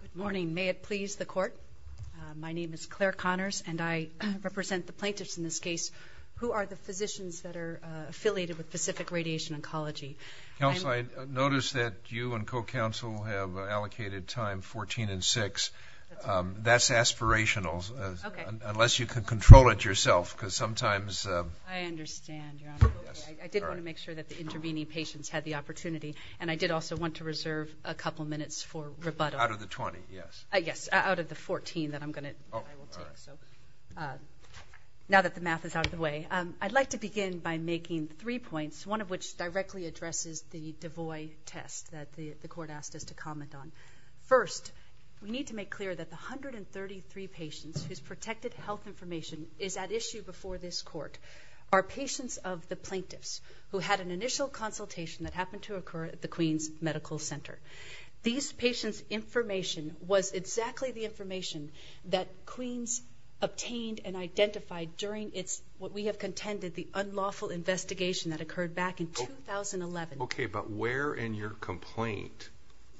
Good morning. May it please the Court? My name is Claire Connors, and I represent the plaintiffs in this case. Who are the physicians that are affiliated with Pacific Radiation Oncology? Counsel, I notice that you and co-counsel have allocated time 14 and 6. That's aspirational, unless you can control it yourself, because sometimes... I understand, Your Honor. I did want to make sure that the intervening patients had the opportunity, and I did also want to reserve a couple minutes for rebuttal. Out of the 20, yes. Yes, out of the 14 that I will take. Now that the math is out of the way, I'd like to begin by making three points, one of which directly addresses the DeVoy test that the Court asked us to comment on. First, we need to make clear that the 133 patients whose protected health information is at issue before this Court are patients of the plaintiffs who had an initial consultation that happened to occur at the Queens Medical Center. These patients' information was exactly the information that Queens obtained and identified during what we have contended the unlawful investigation that occurred back in 2011. Okay, but where in your complaint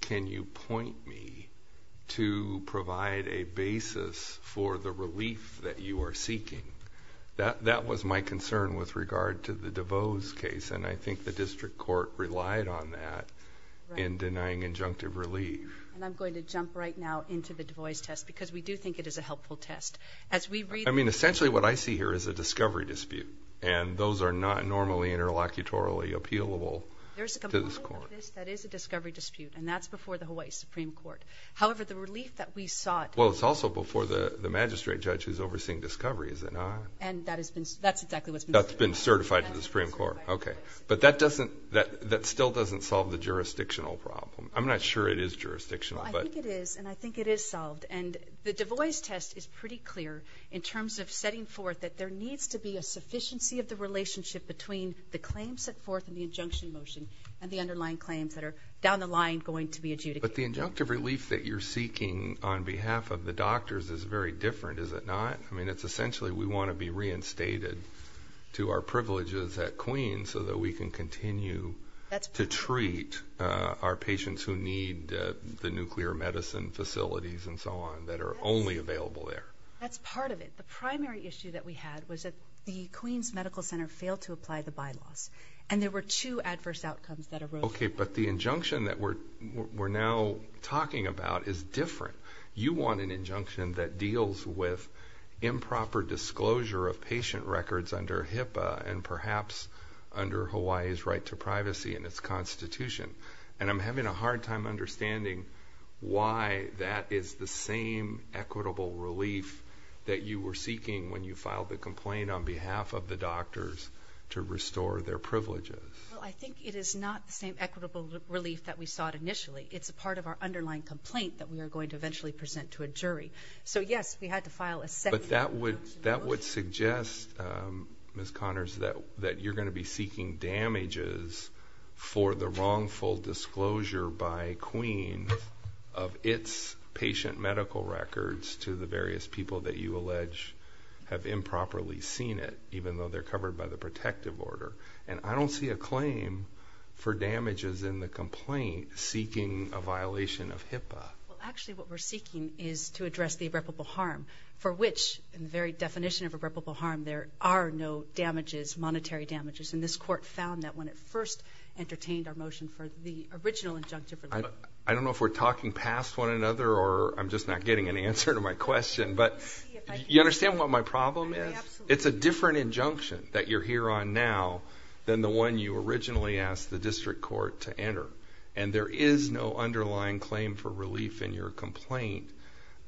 can you point me to provide a basis for the relief that you are seeking? That was my concern with regard to the DeVos case, and I think the District Court relied on that in denying injunctive relief. And I'm going to jump right now into the DeVos test, because we do think it is a helpful test. I mean, essentially what I see here is a discovery dispute, and those are not normally interlocutorily appealable to this Court. There's a component of this that is a discovery dispute, and that's before the Hawaii Supreme Court. However, the relief that we sought... That's been certified to the Supreme Court. But that still doesn't solve the jurisdictional problem. I'm not sure it is jurisdictional. I think it is, and I think it is solved. The DeVos test is pretty clear in terms of setting forth that there needs to be a sufficiency of the relationship between the claims set forth in the injunction motion and the underlying claims that are down the line going to be adjudicated. But the injunctive relief that you're seeking on behalf of the doctors is very different, is it not? I mean, it's essentially we want to be reinstated to our privileges at Queen's so that we can continue to treat our patients who need the nuclear medicine facilities and so on that are only available there. That's part of it. The primary issue that we had was that the Queen's Medical Center failed to apply the bylaws, and there were two adverse outcomes that arose. Okay, but the injunction that we're now talking about is different. You want an injunction that deals with improper disclosure of patient records under HIPAA and perhaps under Hawaii's right to privacy and its constitution, and I'm having a hard time understanding why that is the same equitable relief that you were seeking when you filed the complaint on behalf of the doctors to restore their privileges. Well, I think it is not the same equitable relief that we sought initially. It's a part of our underlying complaint that we are going to eventually present to a jury. So, yes, we had to file a second injunction. But that would suggest, Ms. Connors, that you're going to be seeking damages for the wrongful disclosure by Queen's of its patient medical records to the various people that you allege have improperly seen it, even though they're covered by the protective order. And I don't see a claim for damages in the complaint seeking a violation of HIPAA. Well, actually, what we're seeking is to address the irreparable harm for which, in the very definition of irreparable harm, there are no damages, monetary damages. And this court found that when it first entertained our motion for the original injunction for HIPAA. I don't know if we're talking past one another or I'm just not getting an answer to my question, but you understand what my problem is? Absolutely. It's a different injunction that you're here on now than the one you originally asked the district court to enter. And there is no underlying claim for relief in your complaint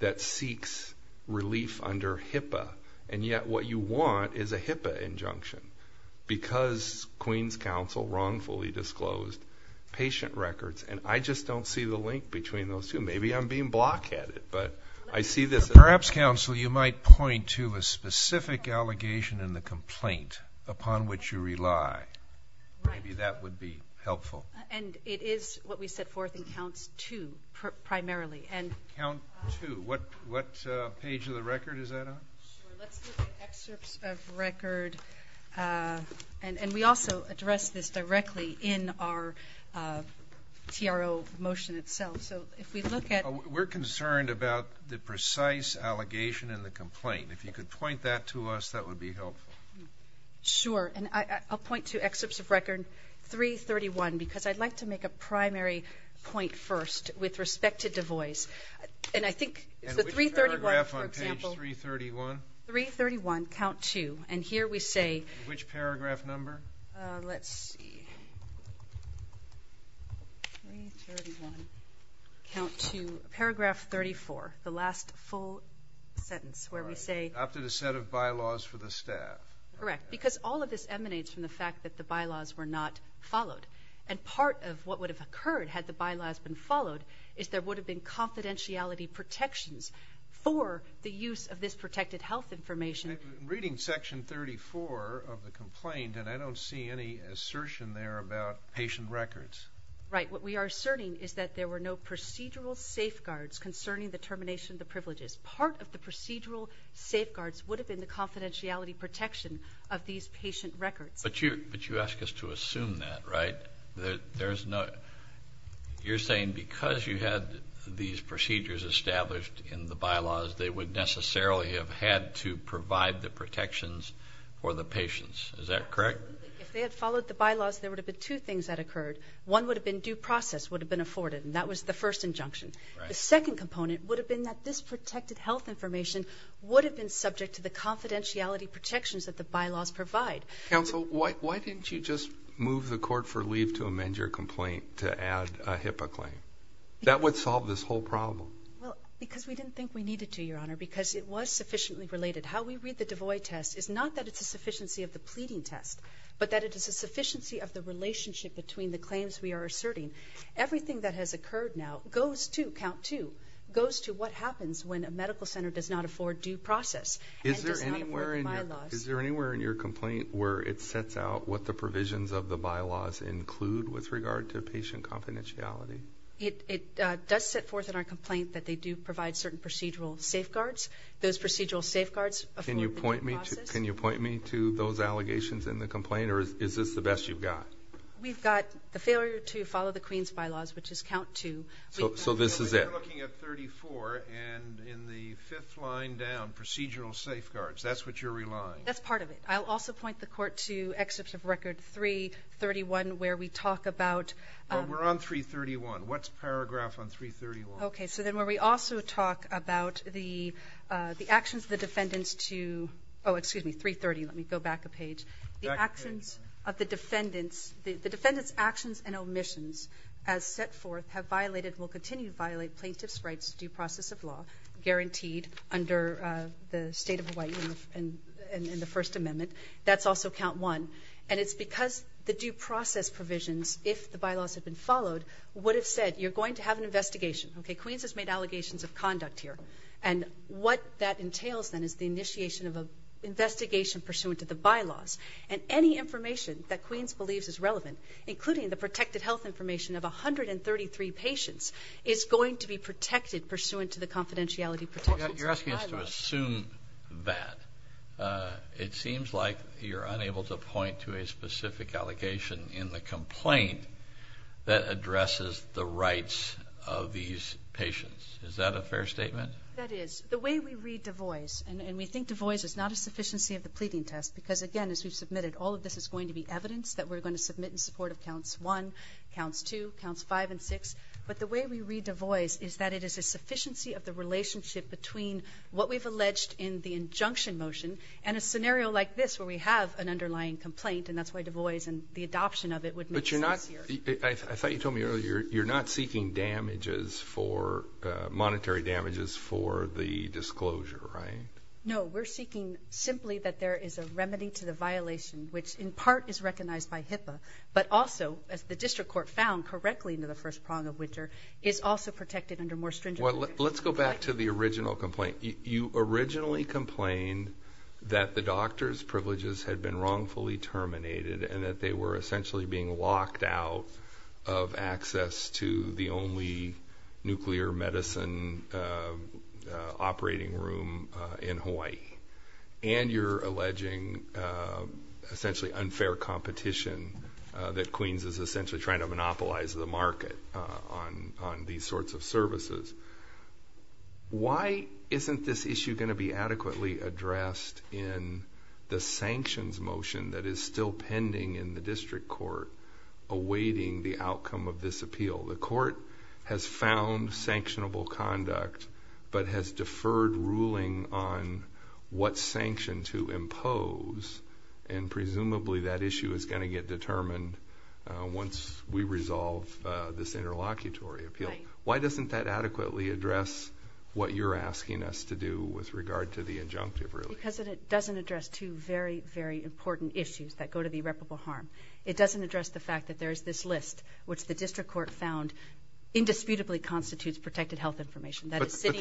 that seeks relief under HIPAA. And yet what you want is a HIPAA injunction because Queen's Counsel wrongfully disclosed patient records. And I just don't see the link between those two. Maybe I'm being block-headed, but I see this. Perhaps, counsel, you might point to a specific allegation in the complaint upon which you rely. Maybe that would be helpful. And it is what we set forth in counts two, primarily. Count two. What page of the record is that on? Let's look at excerpts of record. And we also address this directly in our TRO motion itself. We're concerned about the precise allegation in the complaint. If you could point that to us, that would be helpful. Sure. And I'll point to excerpts of record 331 because I'd like to make a primary point first with respect to Du Bois. And I think it's the 331, for example. And which paragraph on page 331? 331, count two. And here we say... Which paragraph number? Let's see. Count two, paragraph 34, the last full sentence where we say... After the set of bylaws for the staff. Correct, because all of this emanates from the fact that the bylaws were not followed. And part of what would have occurred had the bylaws been followed is there would have been confidentiality protections for the use of this protected health information. I'm reading section 34 of the complaint, and I don't see any assertion there about patient records. Right. What we are asserting is that there were no procedural safeguards concerning the termination of the privileges. Part of the procedural safeguards would have been the confidentiality protection of these patient records. But you ask us to assume that, right? You're saying because you had these procedures established in the bylaws, they would necessarily have had to provide the protections for the patients. Is that correct? If they had followed the bylaws, there would have been two things that occurred. One would have been due process would have been afforded, and that was the first injunction. The second component would have been that this protected health information would have been subject to the confidentiality protections that the bylaws provide. Counsel, why didn't you just move the court for leave to amend your complaint to add a HIPAA claim? That would solve this whole problem. Well, because we didn't think we needed to, Your Honor, because it was sufficiently related. How we read the DeVoy test is not that it's a sufficiency of the pleading test, but that it is a sufficiency of the relationship between the claims we are asserting. Everything that has occurred now goes to, count two, goes to what happens when a medical center does not afford due process and does not afford the bylaws. Is there anywhere in your complaint where it sets out what the provisions of the bylaws include with regard to patient confidentiality? It does set forth in our complaint that they do provide certain procedural safeguards. Those procedural safeguards afford the due process. Can you point me to those allegations in the complaint, or is this the best you've got? We've got the failure to follow the Queen's bylaws, which is count two. So this is it. You're looking at 34, and in the fifth line down, procedural safeguards. That's what you're relying on. That's part of it. I'll also point the court to excerpts of record 331 where we talk about We're on 331. What's paragraph on 331? Okay, so then where we also talk about the actions of the defendants to Oh, excuse me, 330. Let me go back a page. The actions of the defendants, the defendants' actions and omissions, as set forth, have violated and will continue to violate plaintiff's rights to due process of law guaranteed under the State of Hawaii and the First Amendment. That's also count one. And it's because the due process provisions, if the bylaws had been followed, would have said you're going to have an investigation. Okay, Queen's has made allegations of conduct here. And what that entails then is the initiation of an investigation pursuant to the bylaws. And any information that Queen's believes is relevant, including the protected health information of 133 patients, is going to be protected pursuant to the confidentiality protections of the bylaws. You're asking us to assume that. It seems like you're unable to point to a specific allegation in the complaint that addresses the rights of these patients. Is that a fair statement? That is. The way we read Du Bois, and we think Du Bois is not a sufficiency of the pleading test because, again, as we've submitted, all of this is going to be evidence that we're going to submit in support of counts one, counts two, counts five, and six. But the way we read Du Bois is that it is a sufficiency of the relationship between what we've alleged in the injunction motion and a scenario like this where we have an underlying complaint, and that's why Du Bois and the adoption of it would make sense here. But you're not – I thought you told me earlier, you're not seeking damages for – monetary damages for the disclosure, right? No. We're seeking simply that there is a remedy to the violation, which in part is recognized by HIPAA, but also, as the district court found correctly in the first prong of Witcher, is also protected under more stringent protections. Well, let's go back to the original complaint. You originally complained that the doctor's privileges had been wrongfully terminated and that they were essentially being locked out of access to the only nuclear medicine operating room in Hawaii, and you're alleging essentially unfair competition that Queens is essentially trying to monopolize the market on these sorts of services. Why isn't this issue going to be adequately addressed in the sanctions motion that is still pending in the district court awaiting the outcome of this appeal? The court has found sanctionable conduct, but has deferred ruling on what sanction to impose, and presumably that issue is going to get determined once we resolve this interlocutory appeal. Right. Why doesn't that adequately address what you're asking us to do with regard to the injunctive, really? Because it doesn't address two very, very important issues that go to the irreparable harm. It doesn't address the fact that there is this list, which the district court found indisputably constitutes protected health information. That is, city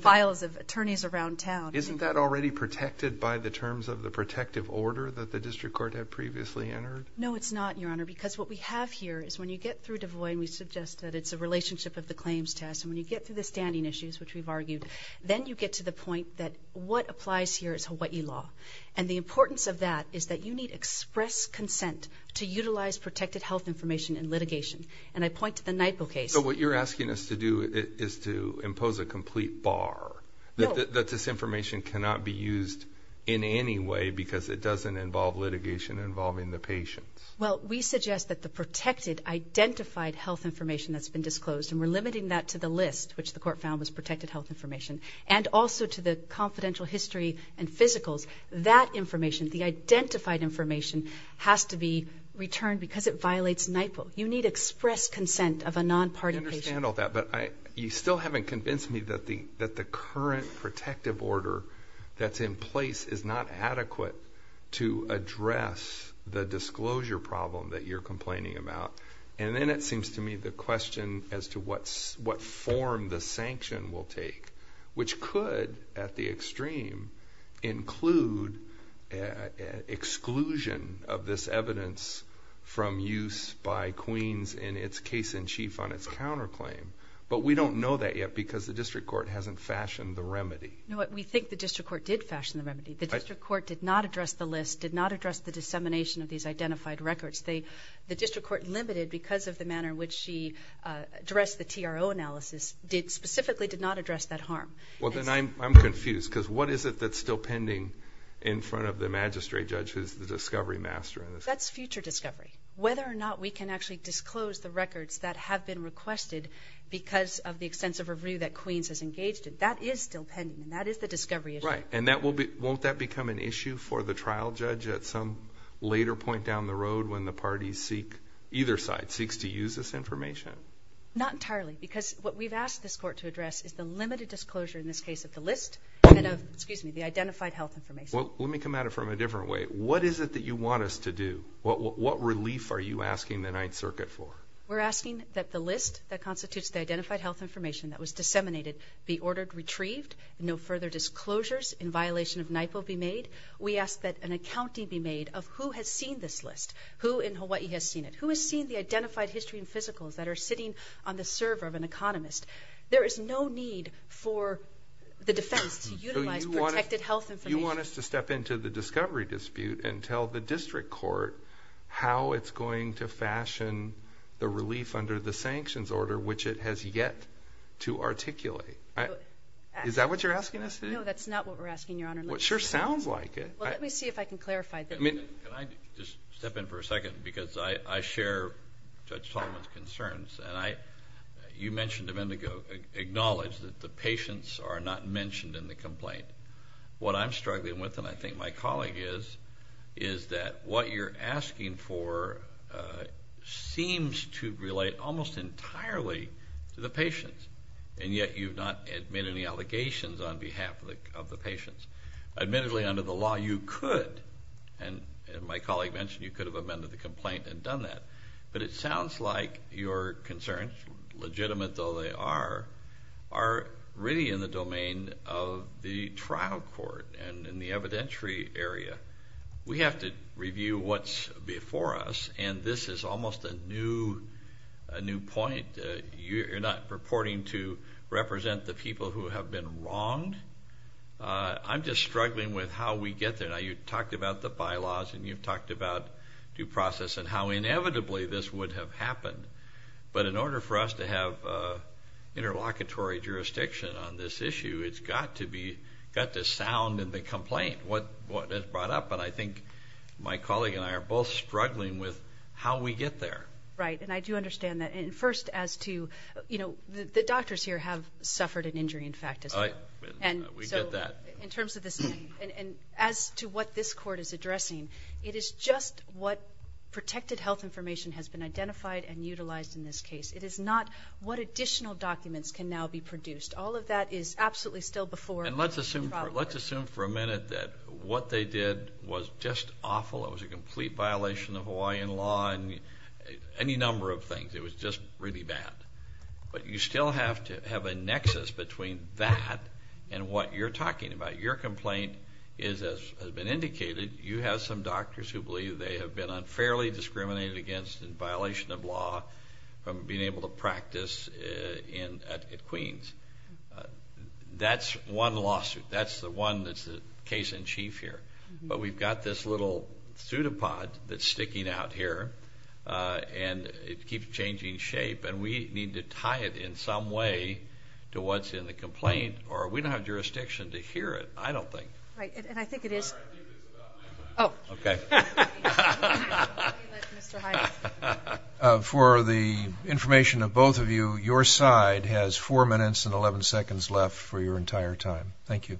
files of attorneys around town. Isn't that already protected by the terms of the protective order that the district court had previously entered? No, it's not, Your Honor, because what we have here is when you get through DeVoy, and we suggest that it's a relationship of the claims test, and when you get through the standing issues, which we've argued, then you get to the point that what applies here is Hawaii law. And the importance of that is that you need express consent to utilize protected health information in litigation. And I point to the Naipo case. So what you're asking us to do is to impose a complete bar that this information cannot be used in any way because it doesn't involve litigation involving the patients. Well, we suggest that the protected, identified health information that's been disclosed, and we're limiting that to the list, which the court found was protected health information, and also to the confidential history and physicals. That information, the identified information, has to be returned because it violates Naipo. You need express consent of a non-party patient. I can handle that, but you still haven't convinced me that the current protective order that's in place is not adequate to address the disclosure problem that you're complaining about. And then it seems to me the question as to what form the sanction will take, which could, at the extreme, include exclusion of this evidence from use by Queens in its case-in-chief on its counterclaim. But we don't know that yet because the district court hasn't fashioned the remedy. We think the district court did fashion the remedy. The district court did not address the list, did not address the dissemination of these identified records. The district court limited because of the manner in which she addressed the TRO analysis, specifically did not address that harm. Well, then I'm confused because what is it that's still pending in front of the magistrate judge who's the discovery master? That's future discovery. Whether or not we can actually disclose the records that have been requested because of the extensive review that Queens has engaged in, that is still pending, and that is the discovery issue. Right, and won't that become an issue for the trial judge at some later point down the road when the parties seek, either side, seeks to use this information? Not entirely because what we've asked this court to address is the limited disclosure in this case of the list and of the identified health information. Well, let me come at it from a different way. What is it that you want us to do? What relief are you asking the Ninth Circuit for? We're asking that the list that constitutes the identified health information that was disseminated be ordered retrieved, no further disclosures in violation of NIPO be made. We ask that an accounting be made of who has seen this list, who in Hawaii has seen it, who has seen the identified history and physicals that are sitting on the server of an economist. There is no need for the defense to utilize protected health information. Do you want us to step into the discovery dispute and tell the district court how it's going to fashion the relief under the sanctions order, which it has yet to articulate? Is that what you're asking us to do? No, that's not what we're asking, Your Honor. Well, it sure sounds like it. Well, let me see if I can clarify. Can I just step in for a second? Because I share Judge Tallman's concerns, and you mentioned a minute ago, acknowledged that the patients are not mentioned in the complaint. What I'm struggling with, and I think my colleague is, is that what you're asking for seems to relate almost entirely to the patients, and yet you've not made any allegations on behalf of the patients. Admittedly, under the law, you could, and my colleague mentioned, you could have amended the complaint and done that. But it sounds like your concerns, legitimate though they are, are really in the domain of the trial court and in the evidentiary area. We have to review what's before us, and this is almost a new point. You're not purporting to represent the people who have been wronged. I'm just struggling with how we get there. Now, you've talked about the bylaws, and you've talked about due process and how inevitably this would have happened. But in order for us to have interlocutory jurisdiction on this issue, it's got to sound in the complaint what is brought up. And I think my colleague and I are both struggling with how we get there. Right, and I do understand that. And first, as to, you know, the doctors here have suffered an injury, in fact, as well. We get that. And so in terms of this, and as to what this court is addressing, it is just what protected health information has been identified and utilized in this case. It is not what additional documents can now be produced. All of that is absolutely still before the trial court. And let's assume for a minute that what they did was just awful. It was a complete violation of Hawaiian law and any number of things. It was just really bad. But you still have to have a nexus between that and what you're talking about. Your complaint is, as has been indicated, you have some doctors who believe they have been unfairly discriminated against in violation of law from being able to practice at Queens. That's one lawsuit. That's the one that's the case in chief here. But we've got this little pseudopod that's sticking out here, and it keeps changing shape, and we need to tie it in some way to what's in the complaint or we don't have jurisdiction to hear it, I don't think. Right, and I think it is. Oh, okay. For the information of both of you, your side has 4 minutes and 11 seconds left for your entire time. Thank you.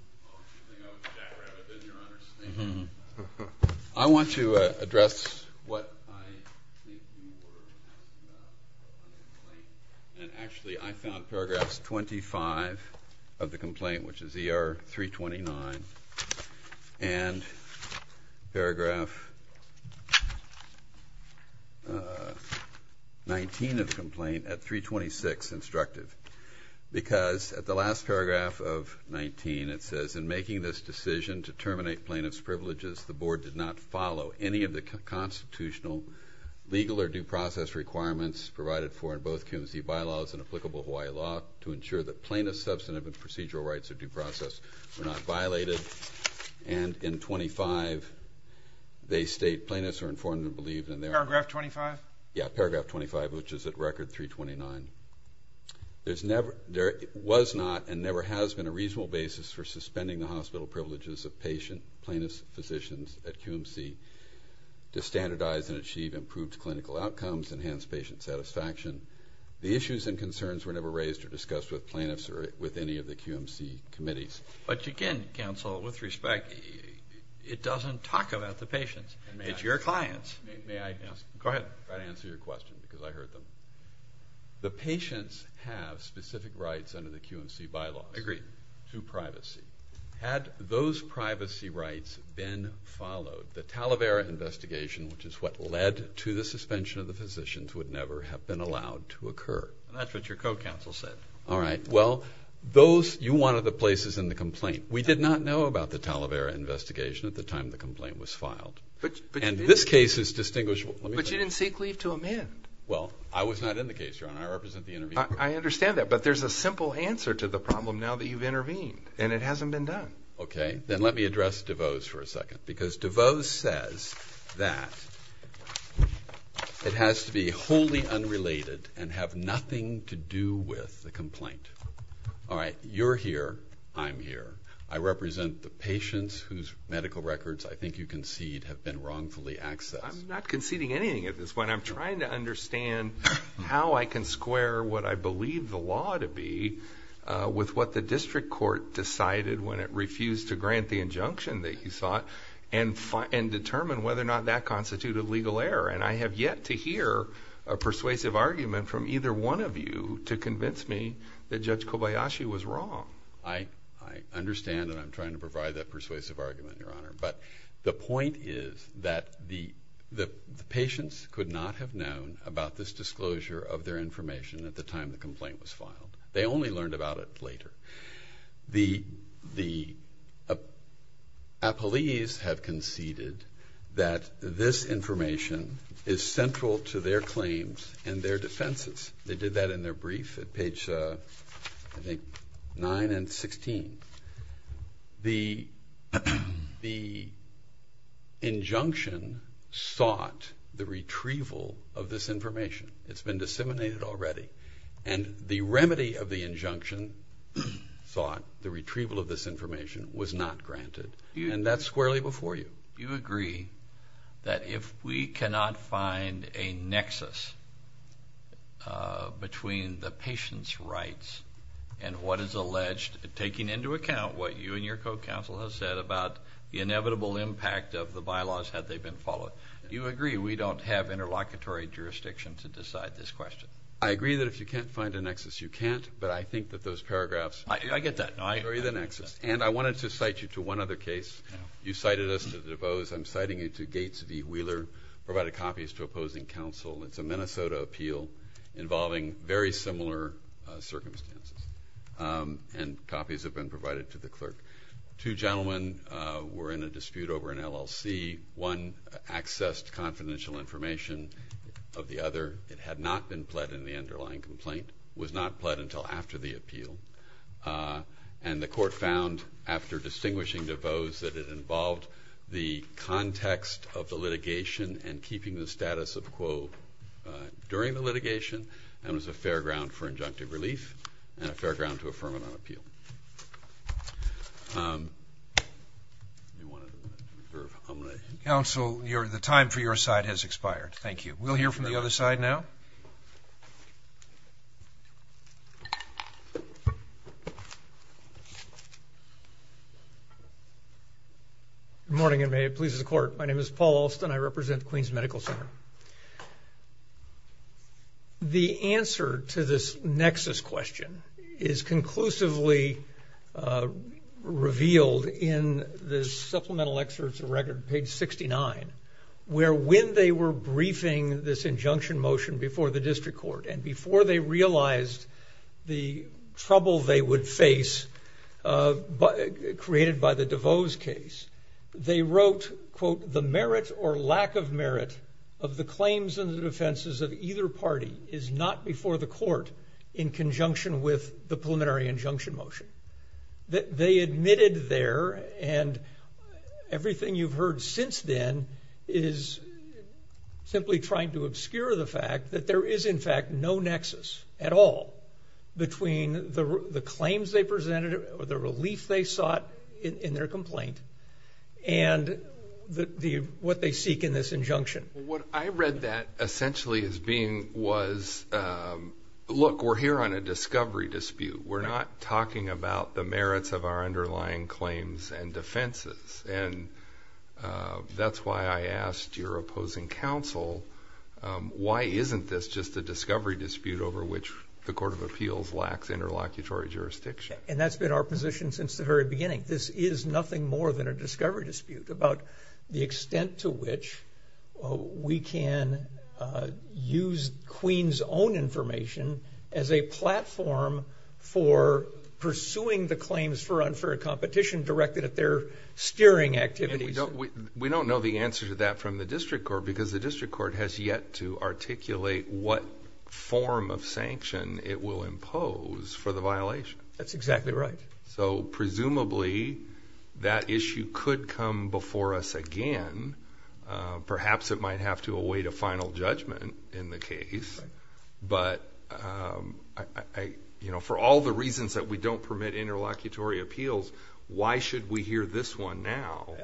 I want to address what I think you were talking about in the complaint, and actually I found paragraphs 25 of the complaint, which is ER 329, and paragraph 19 of the complaint at 326, instructive, because at the last paragraph of 19 it says, in making this decision to terminate plaintiff's privileges, the board did not follow any of the constitutional legal or due process requirements provided for in both Coons v. Bylaws and applicable Hawaii law to ensure that plaintiff's substantive and procedural rights or due process were not violated, and in 25 they state plaintiffs are informed and believed in their... Paragraph 25? Yeah, paragraph 25, which is at record 329. There was not and never has been a reasonable basis for suspending the hospital privileges of patient plaintiff's physicians at QMC to standardize and achieve improved clinical outcomes, enhance patient satisfaction. The issues and concerns were never raised or discussed with plaintiffs or with any of the QMC committees. But again, counsel, with respect, it doesn't talk about the patients. It's your clients. May I answer your question because I heard them? The patients have specific rights under the QMC bylaws to privacy. Had those privacy rights been followed, the Talavera investigation, which is what led to the suspension of the physicians, would never have been allowed to occur. That's what your co-counsel said. All right. Well, you wanted the places in the complaint. We did not know about the Talavera investigation at the time the complaint was filed. And this case is distinguishable. But you didn't seek leave to amend. Well, I was not in the case, Your Honor. I represent the intervening court. I understand that. But there's a simple answer to the problem now that you've intervened, and it hasn't been done. Okay. Then let me address DeVos for a second because DeVos says that it has to be wholly unrelated and have nothing to do with the complaint. All right. You're here. I'm here. I represent the patients whose medical records I think you concede have been wrongfully accessed. I'm not conceding anything at this point. I'm trying to understand how I can square what I believe the law to be with what the district court decided when it refused to grant the injunction that you sought and determine whether or not that constituted legal error. And I have yet to hear a persuasive argument from either one of you to convince me that Judge Kobayashi was wrong. I understand, and I'm trying to provide that persuasive argument, Your Honor. But the point is that the patients could not have known about this disclosure of their information at the time the complaint was filed. They only learned about it later. The appellees have conceded that this information is central to their claims and their defenses. They did that in their brief at page, I think, 9 and 16. The injunction sought the retrieval of this information. It's been disseminated already. And the remedy of the injunction, the retrieval of this information, was not granted. And that's squarely before you. You agree that if we cannot find a nexus between the patient's rights and what is alleged taking into account what you and your co-counsel have said about the inevitable impact of the bylaws had they been followed, you agree we don't have interlocutory jurisdiction to decide this question? I agree that if you can't find a nexus, you can't. But I think that those paragraphs carry the nexus. I get that. And I wanted to cite you to one other case. You cited us to the DuBose. I'm citing you to Gates v. Wheeler. I provided copies to opposing counsel. It's a Minnesota appeal involving very similar circumstances. And copies have been provided to the clerk. Two gentlemen were in a dispute over an LLC. One accessed confidential information of the other. It had not been pled in the underlying complaint. It was not pled until after the appeal. And the court found, after distinguishing DuBose, that it involved the context of the litigation and keeping the status of quo during the litigation and was a fair ground for injunctive relief and a fair ground to affirm it on appeal. Counsel, the time for your side has expired. Thank you. We'll hear from the other side now. Thank you. Good morning, and may it please the court. My name is Paul Alston. I represent Queens Medical Center. The answer to this nexus question is conclusively revealed in the supplemental excerpts of record, page 69, where when they were briefing this injunction motion before the district court, and before they realized the trouble they would face created by the DuBose case, they wrote, quote, the merit or lack of merit of the claims and the defenses of either party is not before the court in conjunction with the preliminary injunction motion. They admitted there, and everything you've heard since then is simply trying to obscure the fact that there is, in fact, no nexus at all between the claims they presented or the relief they sought in their complaint and what they seek in this injunction. What I read that essentially as being was, look, we're here on a discovery dispute. We're not talking about the merits of our underlying claims and defenses, and that's why I asked your opposing counsel, why isn't this just a discovery dispute over which the court of appeals lacks interlocutory jurisdiction? And that's been our position since the very beginning. This is nothing more than a discovery dispute about the extent to which we can use Queen's own information as a platform for pursuing the claims for unfair competition directed at their steering activities. And we don't know the answer to that from the district court because the district court has yet to articulate what form of sanction it will impose for the violation. That's exactly right. So presumably that issue could come before us again. Perhaps it might have to await a final judgment in the case. But for all the reasons that we don't permit interlocutory appeals, why should we hear this one now?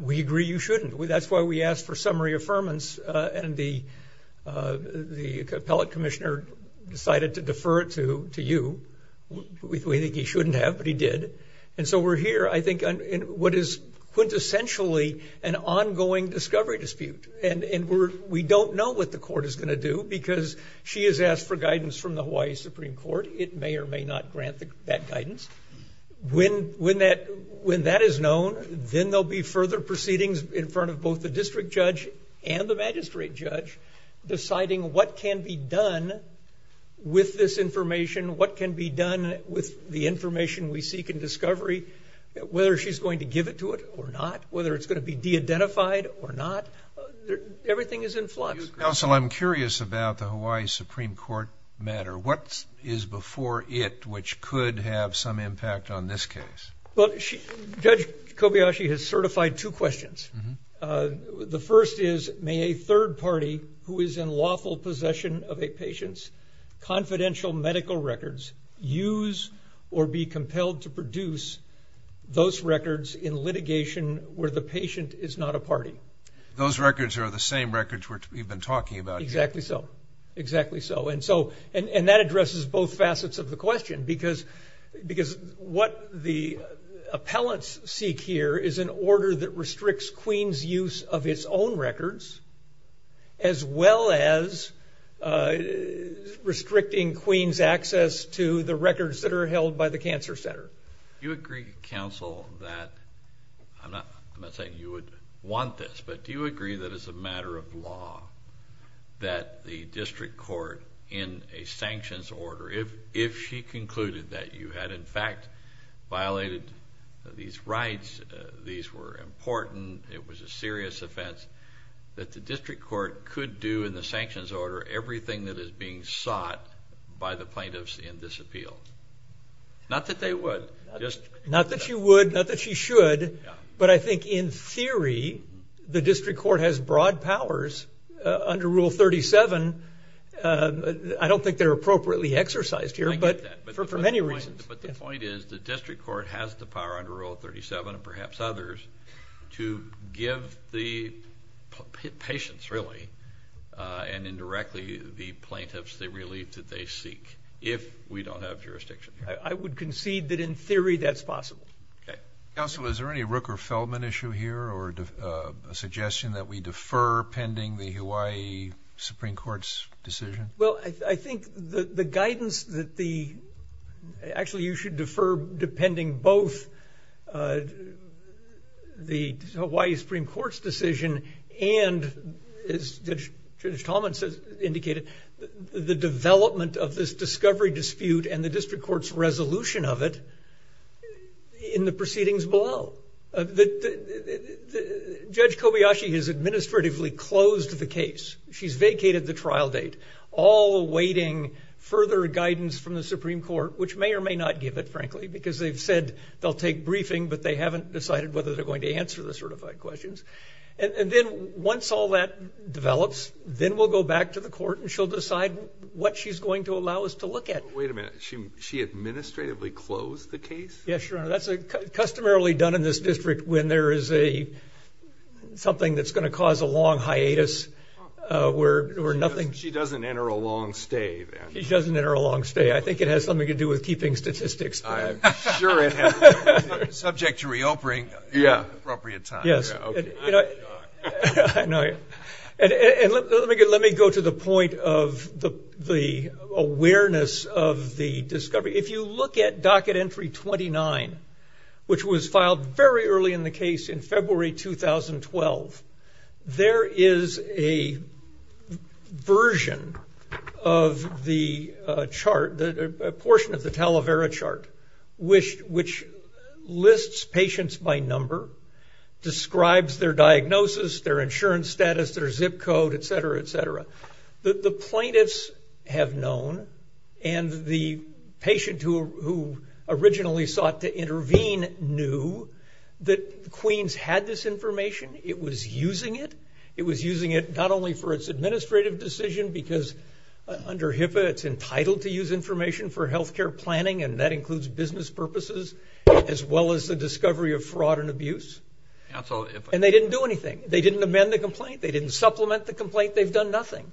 We agree you shouldn't. That's why we asked for summary affirmance, and the appellate commissioner decided to defer it to you. We think he shouldn't have, but he did. And so we're here, I think, in what is quintessentially an ongoing discovery dispute. And we don't know what the court is going to do because she has asked for guidance from the Hawaii Supreme Court. It may or may not grant that guidance. When that is known, then there will be further proceedings in front of both the district judge and the magistrate judge deciding what can be done with this information, what can be done with the information we seek in discovery, whether she's going to give it to it or not, whether it's going to be de-identified or not. Everything is in flux. Counsel, I'm curious about the Hawaii Supreme Court matter. What is before it which could have some impact on this case? Judge Kobayashi has certified two questions. The first is, may a third party who is in lawful possession of a patient's confidential medical records use or be compelled to produce those records in litigation where the patient is not a party? Those records are the same records we've been talking about. Exactly so. And that addresses both facets of the question because what the appellants seek here is an order that restricts Queens' use of its own records as well as restricting Queens' access to the records that are held by the cancer center. Do you agree, counsel, that you would want this, but do you agree that it's a matter of law that the district court in a sanctions order, if she concluded that you had in fact violated these rights, these were important, it was a serious offense, that the district court could do in the sanctions order everything that is being sought by the plaintiffs in this appeal? Not that they would. Not that she would, not that she should, but I think in theory the district court has broad powers under Rule 37. I don't think they're appropriately exercised here for many reasons. But the point is the district court has the power under Rule 37 and perhaps others to give the patients really and indirectly the plaintiffs the relief that they seek if we don't have jurisdiction. I would concede that in theory that's possible. Counsel, is there any Rooker-Feldman issue here or a suggestion that we defer pending the Hawaii Supreme Court's decision? Well, I think the guidance that the – actually you should defer depending both the Hawaii Supreme Court's decision and, as Judge Tolman indicated, the development of this discovery dispute and the district court's resolution of it in the proceedings below. Judge Kobayashi has administratively closed the case. She's vacated the trial date, all awaiting further guidance from the Supreme Court, which may or may not give it, frankly, because they've said they'll take briefing but they haven't decided whether they're going to answer the certified questions. And then once all that develops, then we'll go back to the court and she'll decide what she's going to allow us to look at. Wait a minute, she administratively closed the case? Yes, Your Honor. That's customarily done in this district when there is something that's going to cause a long hiatus or nothing. She doesn't enter a long stay, then. She doesn't enter a long stay. I think it has something to do with keeping statistics. I'm sure it has. Subject to re-opening at the appropriate time. Yes. I'm in shock. I know. And let me go to the point of the awareness of the discovery. If you look at Docket Entry 29, which was filed very early in the case in February 2012, there is a version of the chart, a portion of the Talavera chart, which lists patients by number, describes their diagnosis, their insurance status, their zip code, et cetera, et cetera. The plaintiffs have known, and the patient who originally sought to intervene knew, that Queens had this information. It was using it. It was using it not only for its administrative decision, because under HIPAA it's entitled to use information for health care planning, and that includes business purposes, as well as the discovery of fraud and abuse. And they didn't do anything. They didn't amend the complaint. They didn't supplement the complaint. They've done nothing.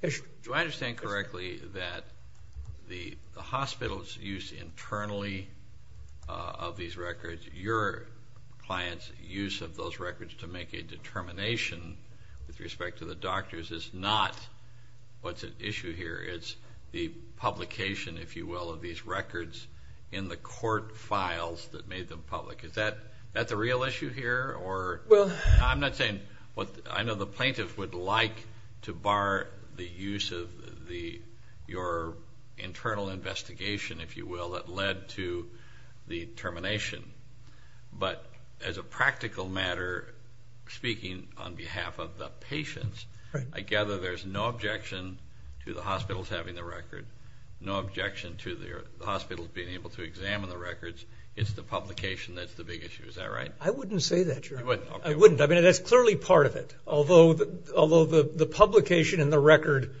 Do I understand correctly that the hospital's use internally of these records, your client's use of those records to make a determination with respect to the doctors is not what's at issue here. It's the publication, if you will, of these records in the court files that made them public. Is that the real issue here? I'm not saying what I know the plaintiff would like to bar the use of your internal investigation, if you will, that led to the termination. But as a practical matter, speaking on behalf of the patients, I gather there's no objection to the hospitals having the record, no objection to the hospitals being able to examine the records. It's the publication that's the big issue. Is that right? I wouldn't say that, Your Honor. You wouldn't? I wouldn't. I mean, that's clearly part of it. Although the publication and the record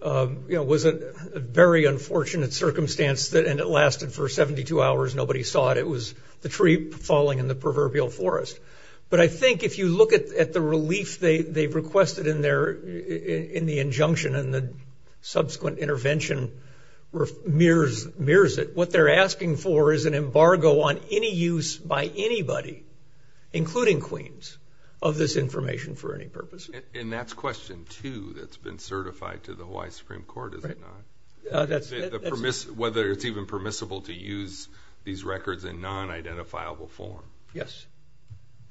was a very unfortunate circumstance, and it lasted for 72 hours. Nobody saw it. It was the tree falling in the proverbial forest. But I think if you look at the relief they've requested in the injunction and the subsequent intervention mirrors it, what they're asking for is an embargo on any use by anybody, including Queens, of this information for any purpose. And that's question two that's been certified to the Hawaii Supreme Court, is it not? That's it. Whether it's even permissible to use these records in non-identifiable form. Yes.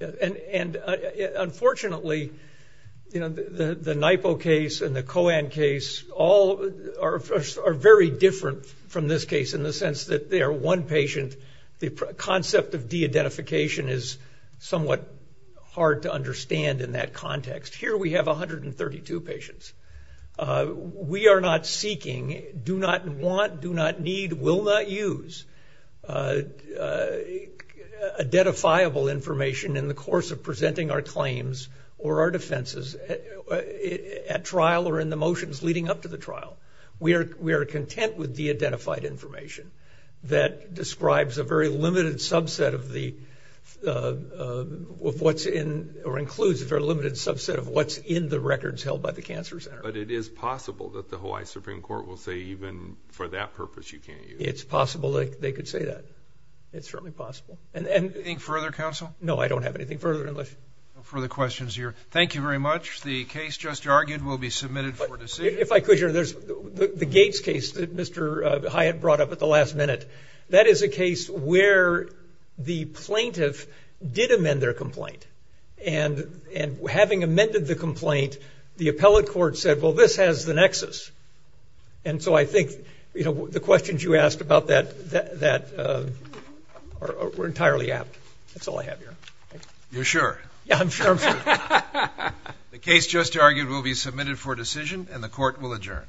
And, unfortunately, the NYPO case and the COAN case all are very different from this case in the sense that they are one patient. The concept of de-identification is somewhat hard to understand in that context. Here we have 132 patients. We are not seeking, do not want, do not need, will not use, identifiable information in the course of presenting our claims or our defenses at trial or in the motions leading up to the trial. We are content with de-identified information that describes a very limited subset of what's in or includes a very limited subset of what's in the records held by the cancer center. But it is possible that the Hawaii Supreme Court will say even for that purpose you can't use it. It's possible they could say that. It's certainly possible. Anything further, counsel? No, I don't have anything further. No further questions here. Thank you very much. The case just argued will be submitted for decision. If I could, there's the Gates case that Mr. Hyatt brought up at the last minute. That is a case where the plaintiff did amend their complaint. And having amended the complaint, the appellate court said, well, this has the nexus. And so I think the questions you asked about that were entirely apt. That's all I have here. You're sure? Yeah, I'm sure. The case just argued will be submitted for decision, and the court will adjourn.